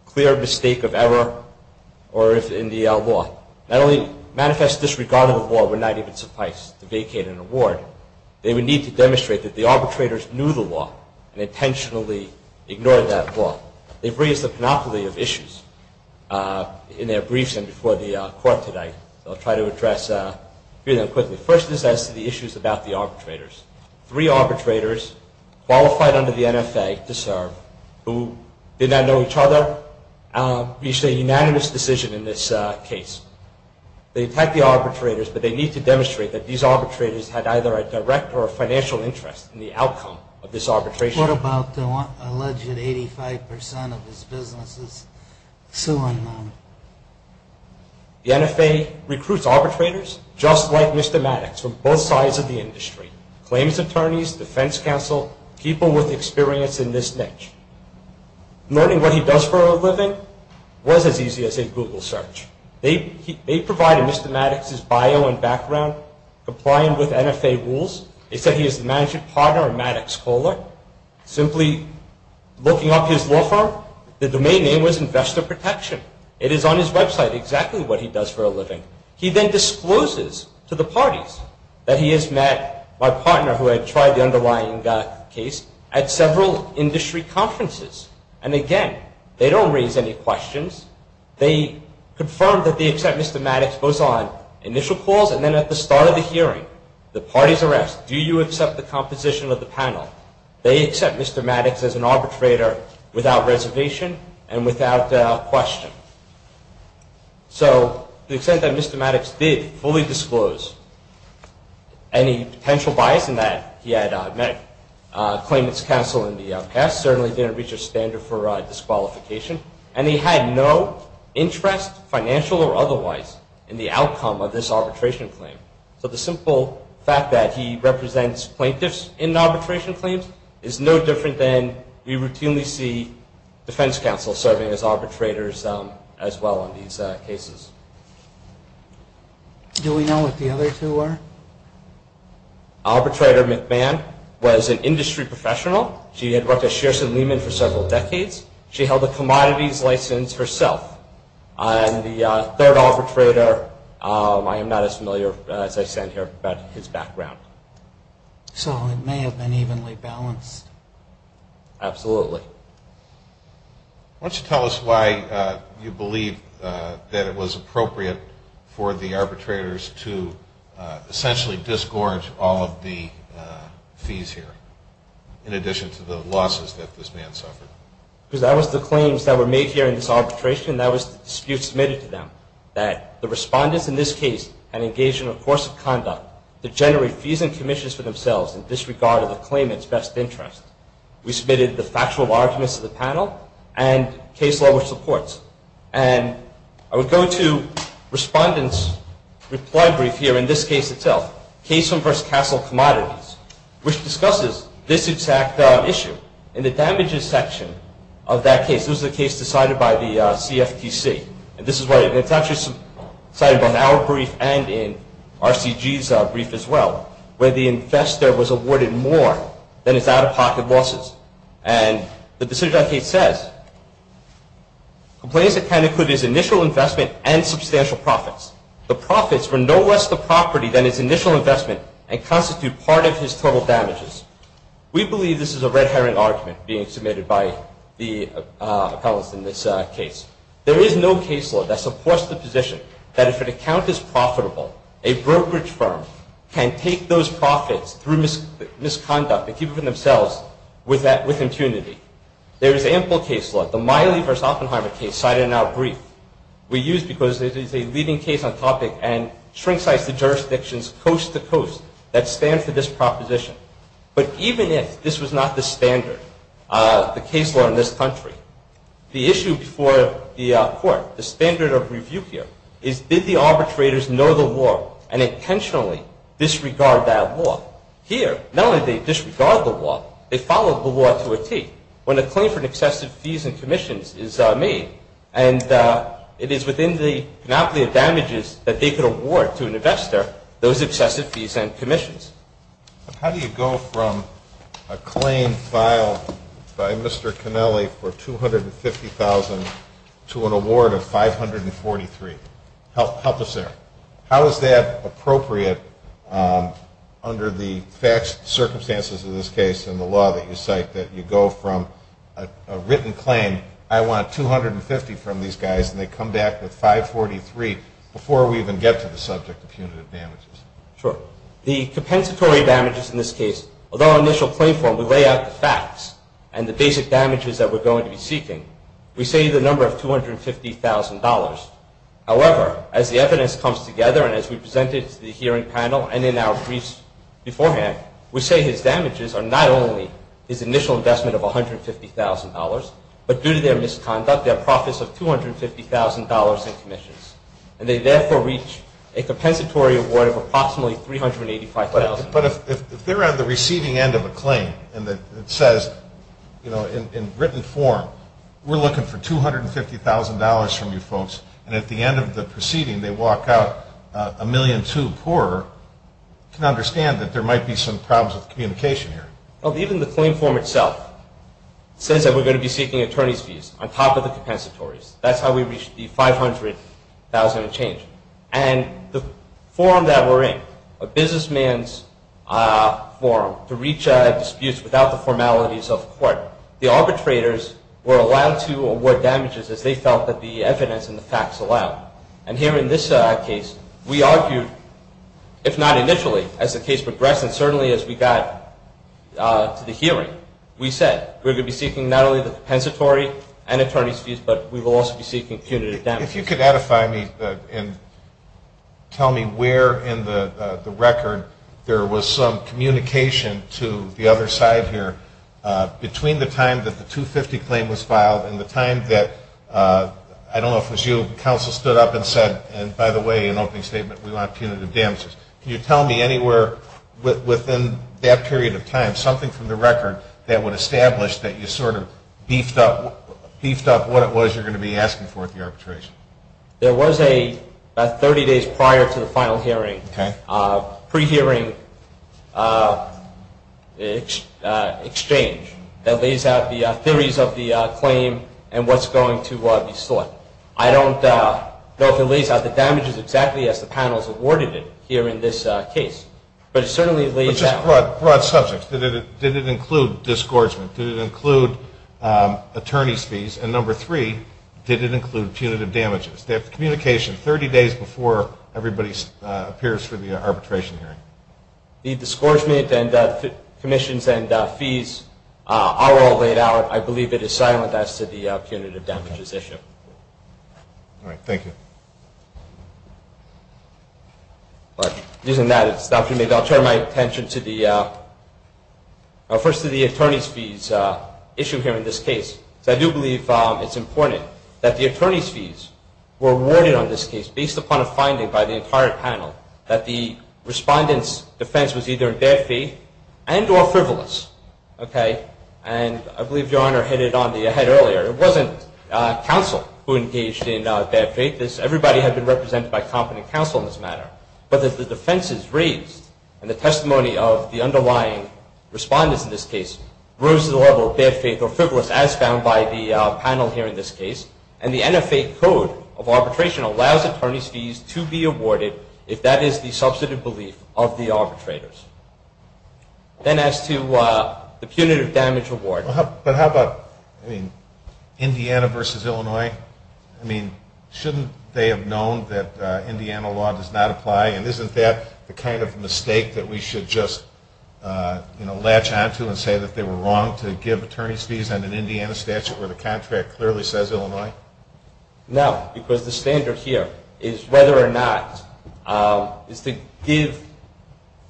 clear mistake of error in the law. Not only manifest disregard of the law would not even suffice to vacate an award, they would need to demonstrate that the arbitrators knew the law and intentionally ignored that law. They've raised a panoply of issues in their briefs and before the Court today. So I'll try to address a few of them quickly. First is as to the issues about the arbitrators. Three arbitrators qualified under the NFA to serve, who did not know each other, reached a unanimous decision in this case. They attacked the arbitrators, but they need to demonstrate that these arbitrators had either a direct or financial interest in the outcome of this arbitration. What about the alleged 85% of his businesses? The NFA recruits arbitrators just like Mr. Maddox from both sides of the industry. Claims attorneys, defense counsel, people with experience in this niche. Learning what he does for a living was as easy as a Google search. They provided Mr. Maddox's bio and background, compliant with NFA rules. They said he is the management partner of Maddox Kohler. Simply looking up his law firm, the domain name was Investor Protection. It is on his website exactly what he does for a living. He then discloses to the parties that he has met my partner, who had tried the underlying case, at several industry conferences. And again, they don't raise any questions. They confirm that they accept Mr. Maddox both on initial calls and then at the start of the hearing. The parties are asked, do you accept the composition of the panel? They accept Mr. Maddox as an arbitrator without reservation and without question. So the extent that Mr. Maddox did fully disclose any potential bias in that he had met claimants counsel in the past certainly didn't reach a standard for disqualification. And he had no interest, financial or otherwise, in the outcome of this arbitration claim. So the simple fact that he represents plaintiffs in arbitration claims is no different than we routinely see defense counsel serving as arbitrators as well on these cases. Do we know what the other two are? Arbitrator McMahon was an industry professional. She had worked at Shearson Lehman for several decades. She held a commodities license herself. And the third arbitrator, I am not as familiar as I stand here about his background. So it may have been evenly balanced. Absolutely. Why don't you tell us why you believe that it was appropriate for the arbitrators to essentially disgorge all of the fees here in addition to the losses that this man suffered? Because that was the claims that were made here in this arbitration. That was the dispute submitted to them, that the respondents in this case had engaged in a course of conduct to generate fees and commissions for themselves in disregard of the claimant's best interest. We submitted the factual arguments of the panel and case law which supports. And I would go to respondent's reply brief here in this case itself, Kayson v. Castle Commodities, which discusses this exact issue. In the damages section of that case, this was a case decided by the CFTC. And this is why it's actually cited in our brief and in RCG's brief as well, where the investor was awarded more than his out-of-pocket losses. And the decision of that case says, Complaints that kind of include his initial investment and substantial profits. The profits were no less the property than his initial investment and constitute part of his total damages. We believe this is a red herring argument being submitted by the appellants in this case. There is no case law that supports the position that if an account is profitable, a brokerage firm can take those profits through misconduct and keep it for themselves with impunity. There is ample case law, the Miley v. Oppenheimer case cited in our brief. We use it because it is a leading case on topic and shrinksites the jurisdictions coast-to-coast that stand for this proposition. But even if this was not the standard, the case law in this country, the issue before the court, the standard of review here, is did the arbitrators know the law and intentionally disregard that law? Here, not only did they disregard the law, they followed the law to a T, when a claim for excessive fees and commissions is made. And it is within the monopoly of damages that they could award to an investor those excessive fees and commissions. How do you go from a claim filed by Mr. Cannelli for $250,000 to an award of $543,000? Help us there. How is that appropriate under the circumstances of this case and the law that you cite, that you go from a written claim, I want $250,000 from these guys, and they come back with $543,000 before we even get to the subject of punitive damages? Sure. The compensatory damages in this case, although our initial claim form, we lay out the facts and the basic damages that we're going to be seeking, we say the number of $250,000. However, as the evidence comes together and as we presented to the hearing panel and in our briefs beforehand, we say his damages are not only his initial investment of $150,000, but due to their misconduct, their profits of $250,000 in commissions. And they therefore reach a compensatory award of approximately $385,000. But if they're on the receiving end of a claim and it says in written form, we're looking for $250,000 from you folks, and at the end of the proceeding they walk out $1.2 million poorer, you can understand that there might be some problems with communication here. Even the claim form itself says that we're going to be seeking attorney's fees on top of the compensatories. That's how we reached the $500,000 change. And the forum that we're in, a businessman's forum, to reach disputes without the formalities of court, the arbitrators were allowed to award damages as they felt that the evidence and the facts allowed. And here in this case, we argued, if not initially, as the case progressed, and certainly as we got to the hearing, we said, we're going to be seeking not only the compensatory and attorney's fees, but we will also be seeking punitive damages. If you could edify me and tell me where in the record there was some communication to the other side here. Between the time that the $250,000 claim was filed and the time that, I don't know if it was you, counsel stood up and said, and by the way, in opening statement, we want punitive damages. Can you tell me anywhere within that period of time, something from the record that would establish that you sort of beefed up what it was you're going to be asking for at the arbitration? There was a 30 days prior to the final hearing, pre-hearing exchange that lays out the theories of the claim and what's going to be sought. I don't know if it lays out the damages exactly as the panels awarded it here in this case, but it certainly lays out. Which is a broad subject. Did it include disgorgement? Did it include attorney's fees? And number three, did it include punitive damages? They have communication 30 days before everybody appears for the arbitration hearing. The disgorgement and commissions and fees are all laid out. I believe it is silent as to the punitive damages issue. All right. Thank you. Using that as an opportunity, I'll turn my attention first to the attorney's fees issue here in this case. I do believe it's important that the attorney's fees were awarded on this case based upon a finding by the entire panel that the respondent's defense was either in bad faith and or frivolous. And I believe Your Honor hit it on the head earlier. It wasn't counsel who engaged in bad faith. Everybody had been represented by competent counsel in this matter. But the defenses raised and the testimony of the underlying respondents in this case rose to the level of bad faith or frivolous as found by the panel here in this case. And the NFA code of arbitration allows attorney's fees to be awarded if that is the substantive belief of the arbitrators. Then as to the punitive damage award. But how about Indiana versus Illinois? I mean, shouldn't they have known that Indiana law does not apply? And isn't that the kind of mistake that we should just, you know, latch on to and say that they were wrong to give attorney's fees on an Indiana statute where the contract clearly says Illinois? No, because the standard here is whether or not is to give,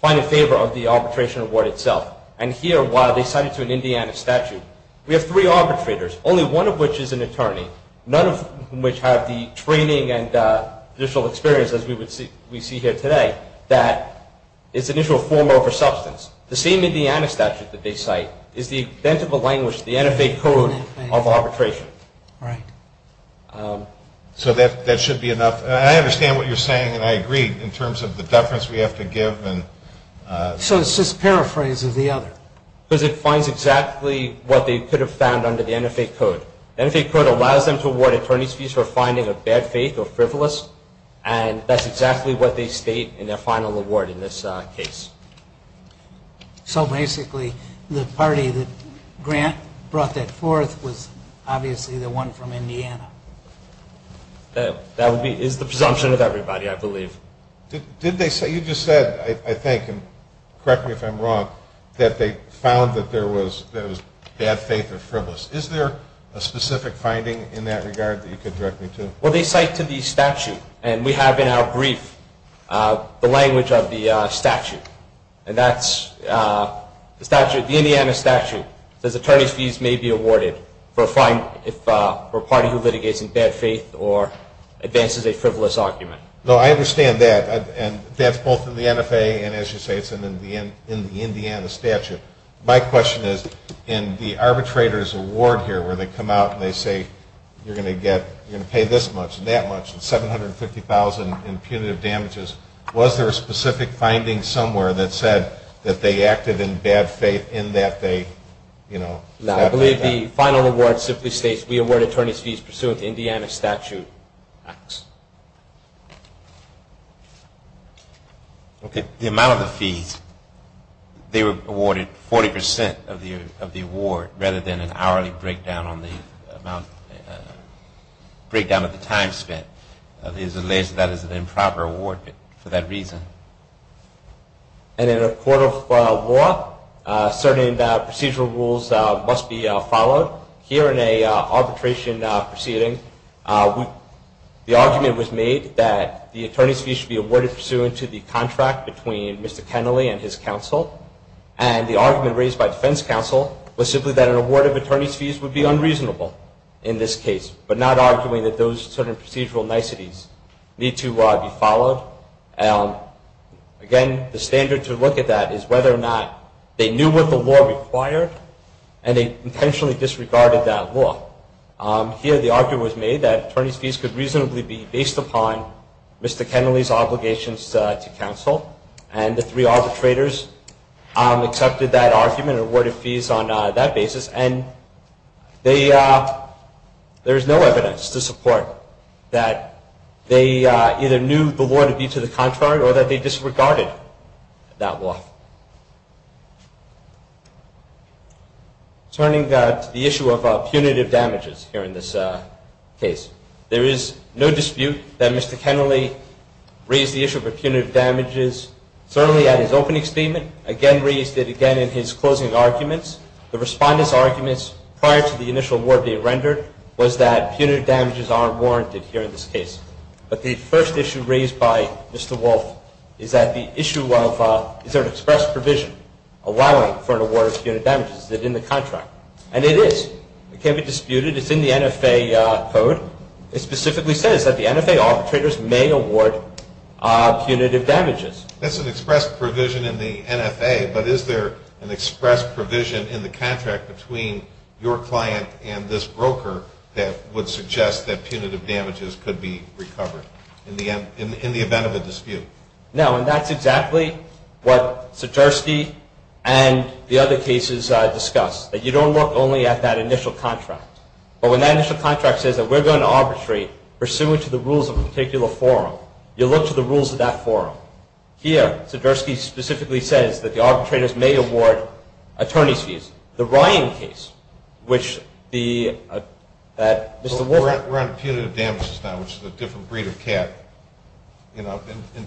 find a favor of the arbitration award itself. And here, while they cite it to an Indiana statute, we have three arbitrators, only one of which is an attorney, none of whom which have the training and additional experience as we see here today, that its initial form over substance. The same Indiana statute that they cite is the intent of a language, the NFA code of arbitration. Right. So that should be enough. I understand what you're saying, and I agree in terms of the deference we have to give. So it's just paraphrase of the other. Because it finds exactly what they could have found under the NFA code. The NFA code allows them to award attorney's fees for finding a bad faith or frivolous, and that's exactly what they state in their final award in this case. So basically the party that Grant brought that forth was obviously the one from Indiana. That is the presumption of everybody, I believe. You just said, I think, and correct me if I'm wrong, that they found that there was bad faith or frivolous. Is there a specific finding in that regard that you could direct me to? Well, they cite to the statute, and we have in our brief the language of the statute. And that's the Indiana statute that says attorney's fees may be awarded for a party who litigates in bad faith or advances a frivolous argument. No, I understand that. And that's both in the NFA and, as you say, it's in the Indiana statute. My question is, in the arbitrator's award here where they come out and they say you're going to get, you're going to pay this much and that much and $750,000 in punitive damages, was there a specific finding somewhere that said that they acted in bad faith in that they, you know, No, I believe the final award simply states we award attorney's fees pursuant to Indiana statute. The amount of the fees, they were awarded 40% of the award rather than an hourly breakdown on the amount, breakdown of the time spent. It is alleged that is an improper award for that reason. And in a court of law, certain procedural rules must be followed. Here in an arbitration proceeding, the argument was made that the attorney's fees should be awarded pursuant to the contract between Mr. Kennelly and his counsel. And the argument raised by defense counsel was simply that an award of attorney's fees would be unreasonable in this case, but not arguing that those certain procedural niceties need to be followed. Again, the standard to look at that is whether or not they knew what the law required and they intentionally disregarded that law. Here the argument was made that attorney's fees could reasonably be based upon Mr. Kennelly's obligations to counsel. And the three arbitrators accepted that argument and awarded fees on that basis. And there is no evidence to support that they either knew the law to be to the contrary or that they disregarded that law. Turning to the issue of punitive damages here in this case, there is no dispute that Mr. Kennelly raised the issue of punitive damages certainly at his opening statement, again raised it again in his closing arguments. The respondent's arguments prior to the initial award being rendered was that punitive damages aren't warranted here in this case. But the first issue raised by Mr. Wolf is that the issue of is there an express provision allowing for an award of punitive damages? Is it in the contract? And it is. It can't be disputed. It's in the NFA code. It specifically says that the NFA arbitrators may award punitive damages. That's an express provision in the NFA. But is there an express provision in the contract between your client and this broker that would suggest that punitive damages could be recovered in the event of a dispute? No. And that's exactly what Sijerski and the other cases discussed, that you don't look only at that initial contract. But when that initial contract says that we're going to arbitrate pursuant to the rules of a particular forum, you look to the rules of that forum. Here, Sijerski specifically says that the arbitrators may award attorney's fees. The Ryan case, which the Mr. Wolf... We're on punitive damages now, which is a different breed of cat. In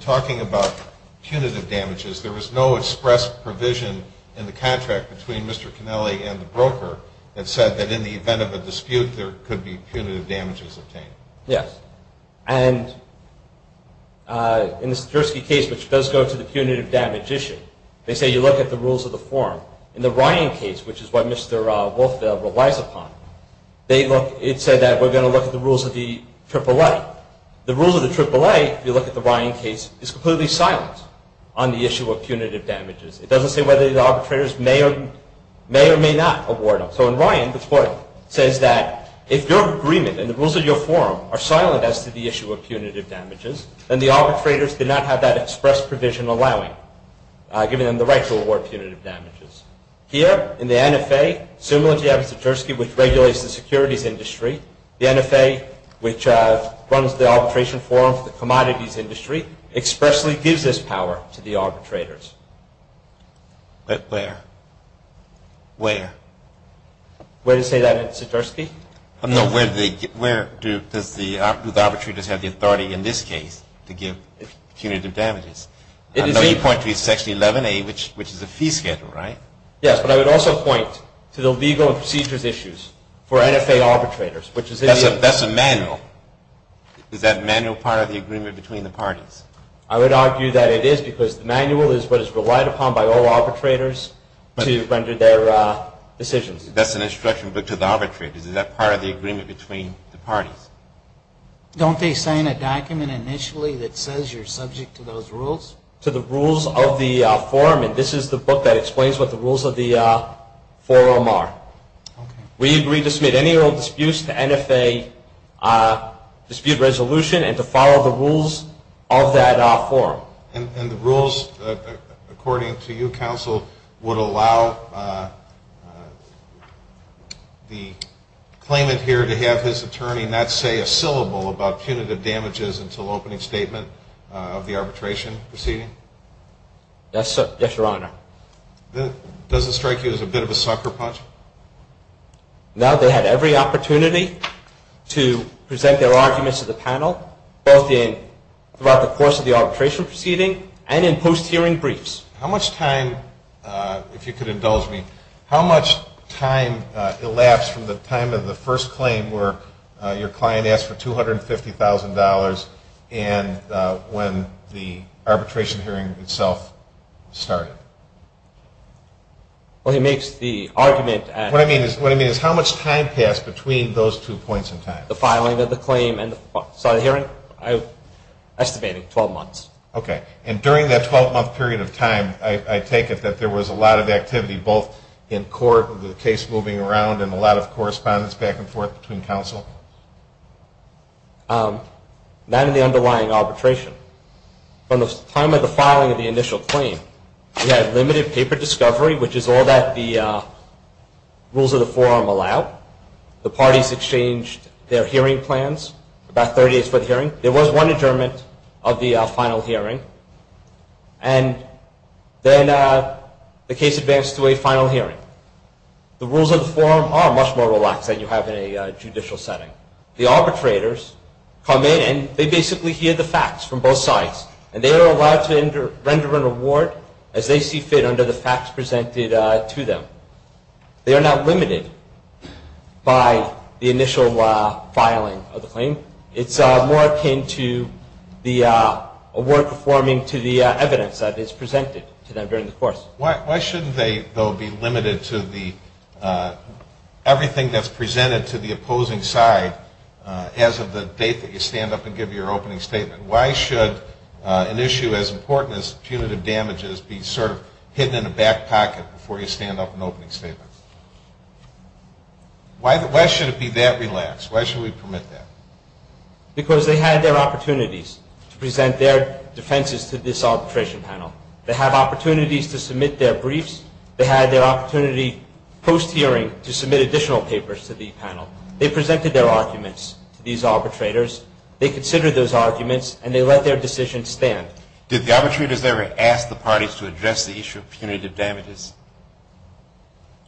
talking about punitive damages, there was no express provision in the contract between Mr. Canelli and the broker that said that in the event of a dispute, there could be punitive damages obtained. Yes. And in the Sijerski case, which does go to the punitive damage issue, they say you look at the rules of the forum. In the Ryan case, which is what Mr. Wolfville relies upon, it said that we're going to look at the rules of the AAA. The rules of the AAA, if you look at the Ryan case, is completely silent on the issue of punitive damages. It doesn't say whether the arbitrators may or may not award them. So in Ryan, the court says that if your agreement and the rules of your forum are silent as to the issue of punitive damages, then the arbitrators do not have that express provision allowing, giving them the right to award punitive damages. Here, in the NFA, similar to Sijerski, which regulates the securities industry, the NFA, which runs the arbitration forum for the commodities industry, expressly gives this power to the arbitrators. But where? Where? Where to say that in Sijerski? No, where do the arbitrators have the authority in this case to give punitive damages? I know you point to Section 11A, which is a fee schedule, right? Yes, but I would also point to the legal and procedures issues for NFA arbitrators, which is in the… That's a manual. Is that manual part of the agreement between the parties? I would argue that it is because the manual is what is relied upon by all arbitrators to render their decisions. That's an instruction book to the arbitrators. Is that part of the agreement between the parties? Don't they sign a document initially that says you're subject to those rules? To the rules of the forum, and this is the book that explains what the rules of the forum are. We agree to submit any old disputes to NFA dispute resolution and to follow the rules of that forum. And the rules, according to you, counsel, would allow the claimant here to have his attorney not say a syllable about punitive damages until opening statement of the arbitration proceeding? Yes, Your Honor. Does it strike you as a bit of a sucker punch? No. They had every opportunity to present their arguments to the panel, both throughout the course of the arbitration proceeding and in post-hearing briefs. How much time, if you could indulge me, how much time elapsed from the time of the first claim where your client asked for $250,000 and when the arbitration hearing itself started? Well, he makes the argument at... What I mean is how much time passed between those two points in time? The filing of the claim and the hearing? I'm estimating 12 months. Okay. And during that 12-month period of time, I take it that there was a lot of activity, both in court with the case moving around and a lot of correspondence back and forth between counsel? Not in the underlying arbitration. From the time of the filing of the initial claim, we had limited paper discovery, which is all that the rules of the forum allow. The parties exchanged their hearing plans about 30 days for the hearing. There was one adjournment of the final hearing. And then the case advanced to a final hearing. The rules of the forum are much more relaxed than you have in a judicial setting. The arbitrators come in and they basically hear the facts from both sides, and they are allowed to render an award as they see fit under the facts presented to them. They are not limited by the initial filing of the claim. It's more akin to the award performing to the evidence that is presented to them during the course. Why shouldn't they, though, be limited to everything that's presented to the opposing side as of the date that you stand up and give your opening statement? Why should an issue as important as punitive damages be sort of hidden in a back pocket before you stand up and open a statement? Why should it be that relaxed? Why should we permit that? Because they had their opportunities to present their defenses to this arbitration panel. They have opportunities to submit their briefs. They had their opportunity post-hearing to submit additional papers to the panel. They presented their arguments to these arbitrators. They considered those arguments, and they let their decision stand. Did the arbitrators ever ask the parties to address the issue of punitive damages?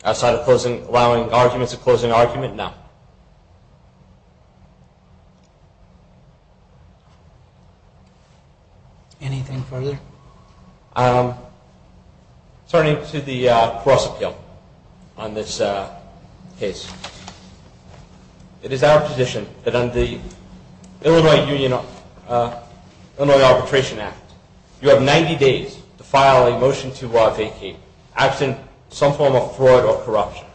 Outside of allowing arguments to close an argument? No. Anything further? Turning to the cross-appeal on this case. It is our position that under the Illinois Arbitration Act, you have 90 days to file a motion to vacate absent some form of fraud or corruption.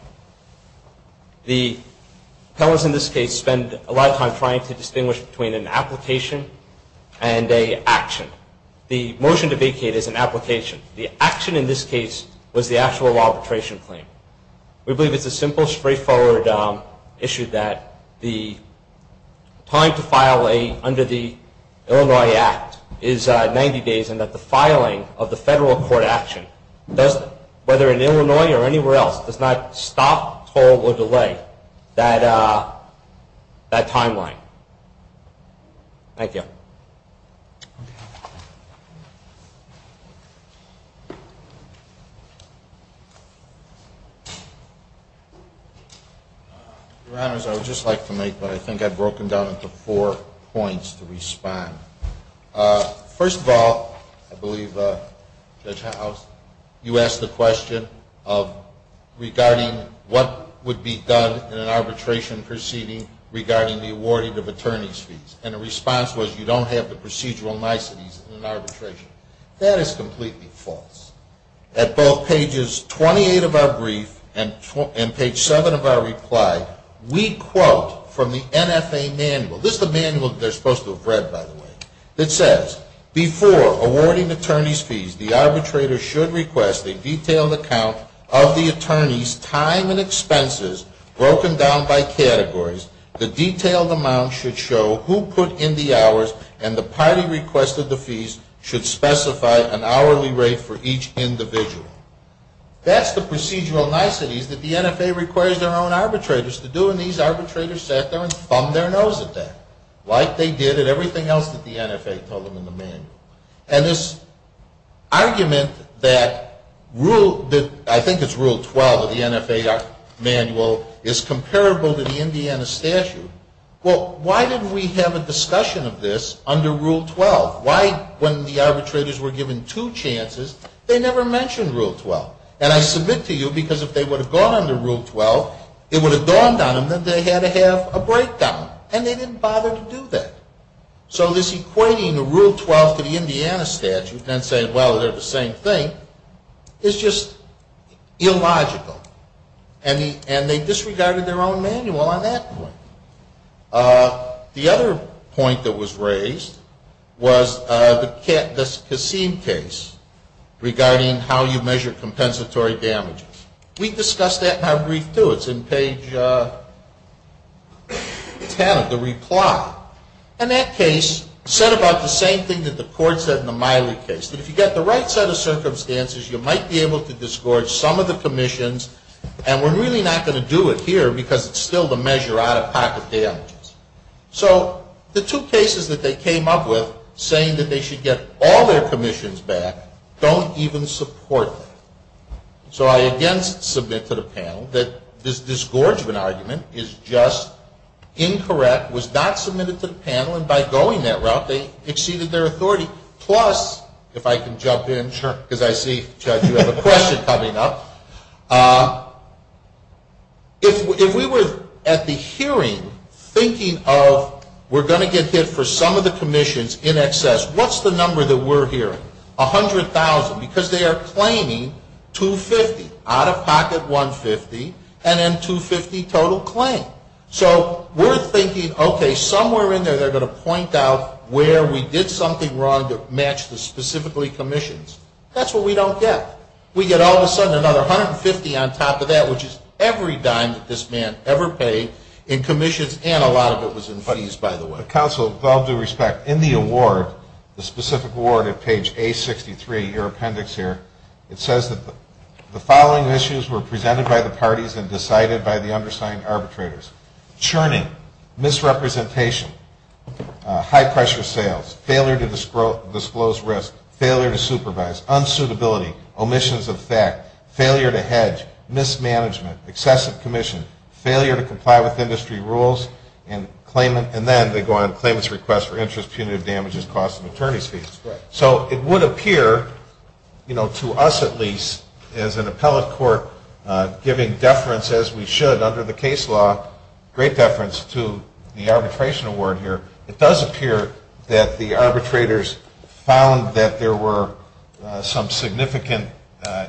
The appellants in this case spend a lot of time trying to distinguish between an application and an action. The motion to vacate is an application. The action in this case was the actual arbitration claim. We believe it's a simple, straightforward issue that the time to file under the Illinois Act is 90 days and that the filing of the federal court action, whether in Illinois or anywhere else, does not stop, hold, or delay that timeline. Thank you. Your Honors, I would just like to make what I think I've broken down into four points to respond. First of all, I believe Judge House, you asked the question of regarding what would be done in an arbitration proceeding regarding the awarding of attorney's fees. And the response was you don't have the power to do that. That is completely false. At both pages 28 of our brief and page 7 of our reply, we quote from the NFA manual. This is the manual they're supposed to have read, by the way. It says, before awarding attorney's fees, the arbitrator should request a detailed account of the attorney's time and expenses broken down by categories. The detailed amount should show who put in the hours, and the party requested the fees should specify an hourly rate for each individual. That's the procedural niceties that the NFA requires their own arbitrators to do, and these arbitrators sat there and thumbed their nose at that, like they did at everything else that the NFA told them in the manual. And this argument that I think it's Rule 12 of the NFA manual is comparable to the Indiana statute. Well, why didn't we have a discussion of this under Rule 12? Why, when the arbitrators were given two chances, they never mentioned Rule 12? And I submit to you because if they would have gone under Rule 12, it would have dawned on them that they had to have a breakdown, and they didn't bother to do that. So this equating the Rule 12 to the Indiana statute and saying, well, they're the same thing, is just illogical. And they disregarded their own manual on that point. The other point that was raised was the Kassim case regarding how you measure compensatory damages. We discussed that in our brief, too. It's in page 10 of the reply. And that case said about the same thing that the court said in the Miley case, that if you get the right set of circumstances, you might be able to disgorge some of the commissions, and we're really not going to do it here because it's still the measure out-of-pocket damages. So the two cases that they came up with saying that they should get all their commissions back don't even support that. So I again submit to the panel that this disgorgement argument is just incorrect, was not submitted to the panel, and by going that route, they exceeded their authority. Plus, if I can jump in because I see, Judge, you have a question coming up. If we were at the hearing thinking of we're going to get hit for some of the commissions in excess, what's the number that we're hearing? $100,000 because they are claiming $250,000, out-of-pocket $150,000, and then $250,000 total claim. So we're thinking, okay, somewhere in there they're going to point out where we did something wrong to match the specifically commissions. That's what we don't get. We get all of a sudden another $150,000 on top of that, which is every dime that this man ever paid in commissions, and a lot of it was in fees, by the way. But counsel, with all due respect, in the award, the specific award at page A63, your appendix here, it says that the following issues were presented by the parties and decided by the undersigned arbitrators. Churning, misrepresentation, high-pressure sales, failure to disclose risk, failure to supervise, unsuitability, omissions of fact, failure to hedge, mismanagement, excessive commission, failure to comply with industry rules, and then they go on to claimant's request for interest, punitive damages, cost of attorney's fees. So it would appear, to us at least, as an appellate court giving deference, as we should under the case law, great deference to the arbitration award here, it does appear that the arbitrators found that there were some significant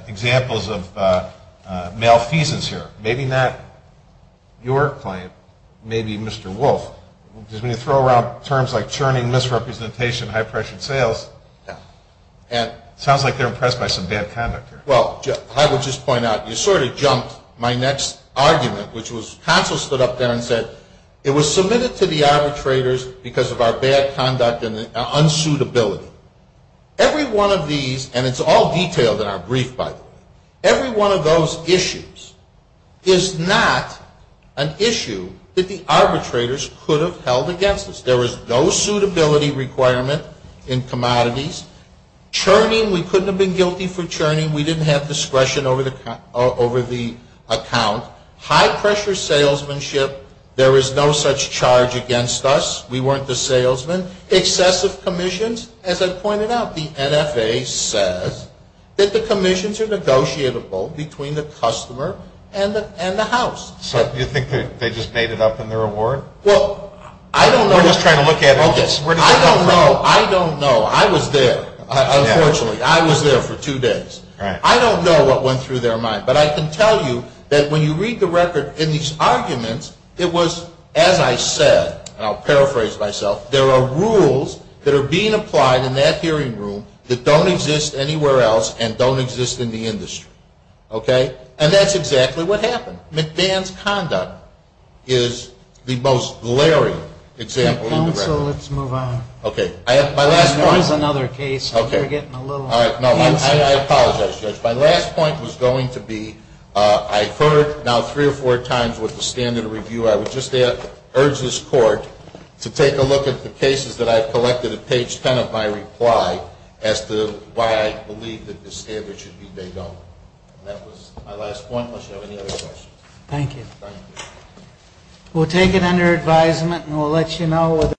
examples of malfeasance here. Maybe not your client. Maybe Mr. Wolf. Because when you throw around terms like churning, misrepresentation, high-pressure sales, it sounds like they're impressed by some bad conduct here. Well, I would just point out, you sort of jumped my next argument, which was counsel stood up there and said, it was submitted to the arbitrators because of our bad conduct and unsuitability. Every one of these, and it's all detailed in our brief, by the way, every one of those issues is not an issue that the arbitrators could have held against us. There was no suitability requirement in commodities. Churning, we couldn't have been guilty for churning. We didn't have discretion over the account. High-pressure salesmanship, there is no such charge against us. We weren't the salesman. Excessive commissions, as I pointed out, the NFA says that the commissions are negotiable between the customer and the house. So you think they just made it up in their award? Well, I don't know. We're just trying to look at it. I don't know. I don't know. I was there, unfortunately. I was there for two days. I don't know what went through their mind. But I can tell you that when you read the record in these arguments, it was, as I said, and I'll paraphrase myself, there are rules that are being applied in that hearing room that don't exist anywhere else and don't exist in the industry. Okay? And that's exactly what happened. McMahon's conduct is the most glaring example in the record. Counsel, let's move on. Okay. I have my last point. There is another case. Okay. You're getting a little antsy. No, I apologize, Judge. My last point was going to be, I've heard now three or four times with the standard review, I would just urge this that the cases that I've collected at page 10 of my reply as to why I believe that the standard should be they don't. And that was my last point, unless you have any other questions. Thank you. Thank you. We'll take it under advisement, and we'll let you know whether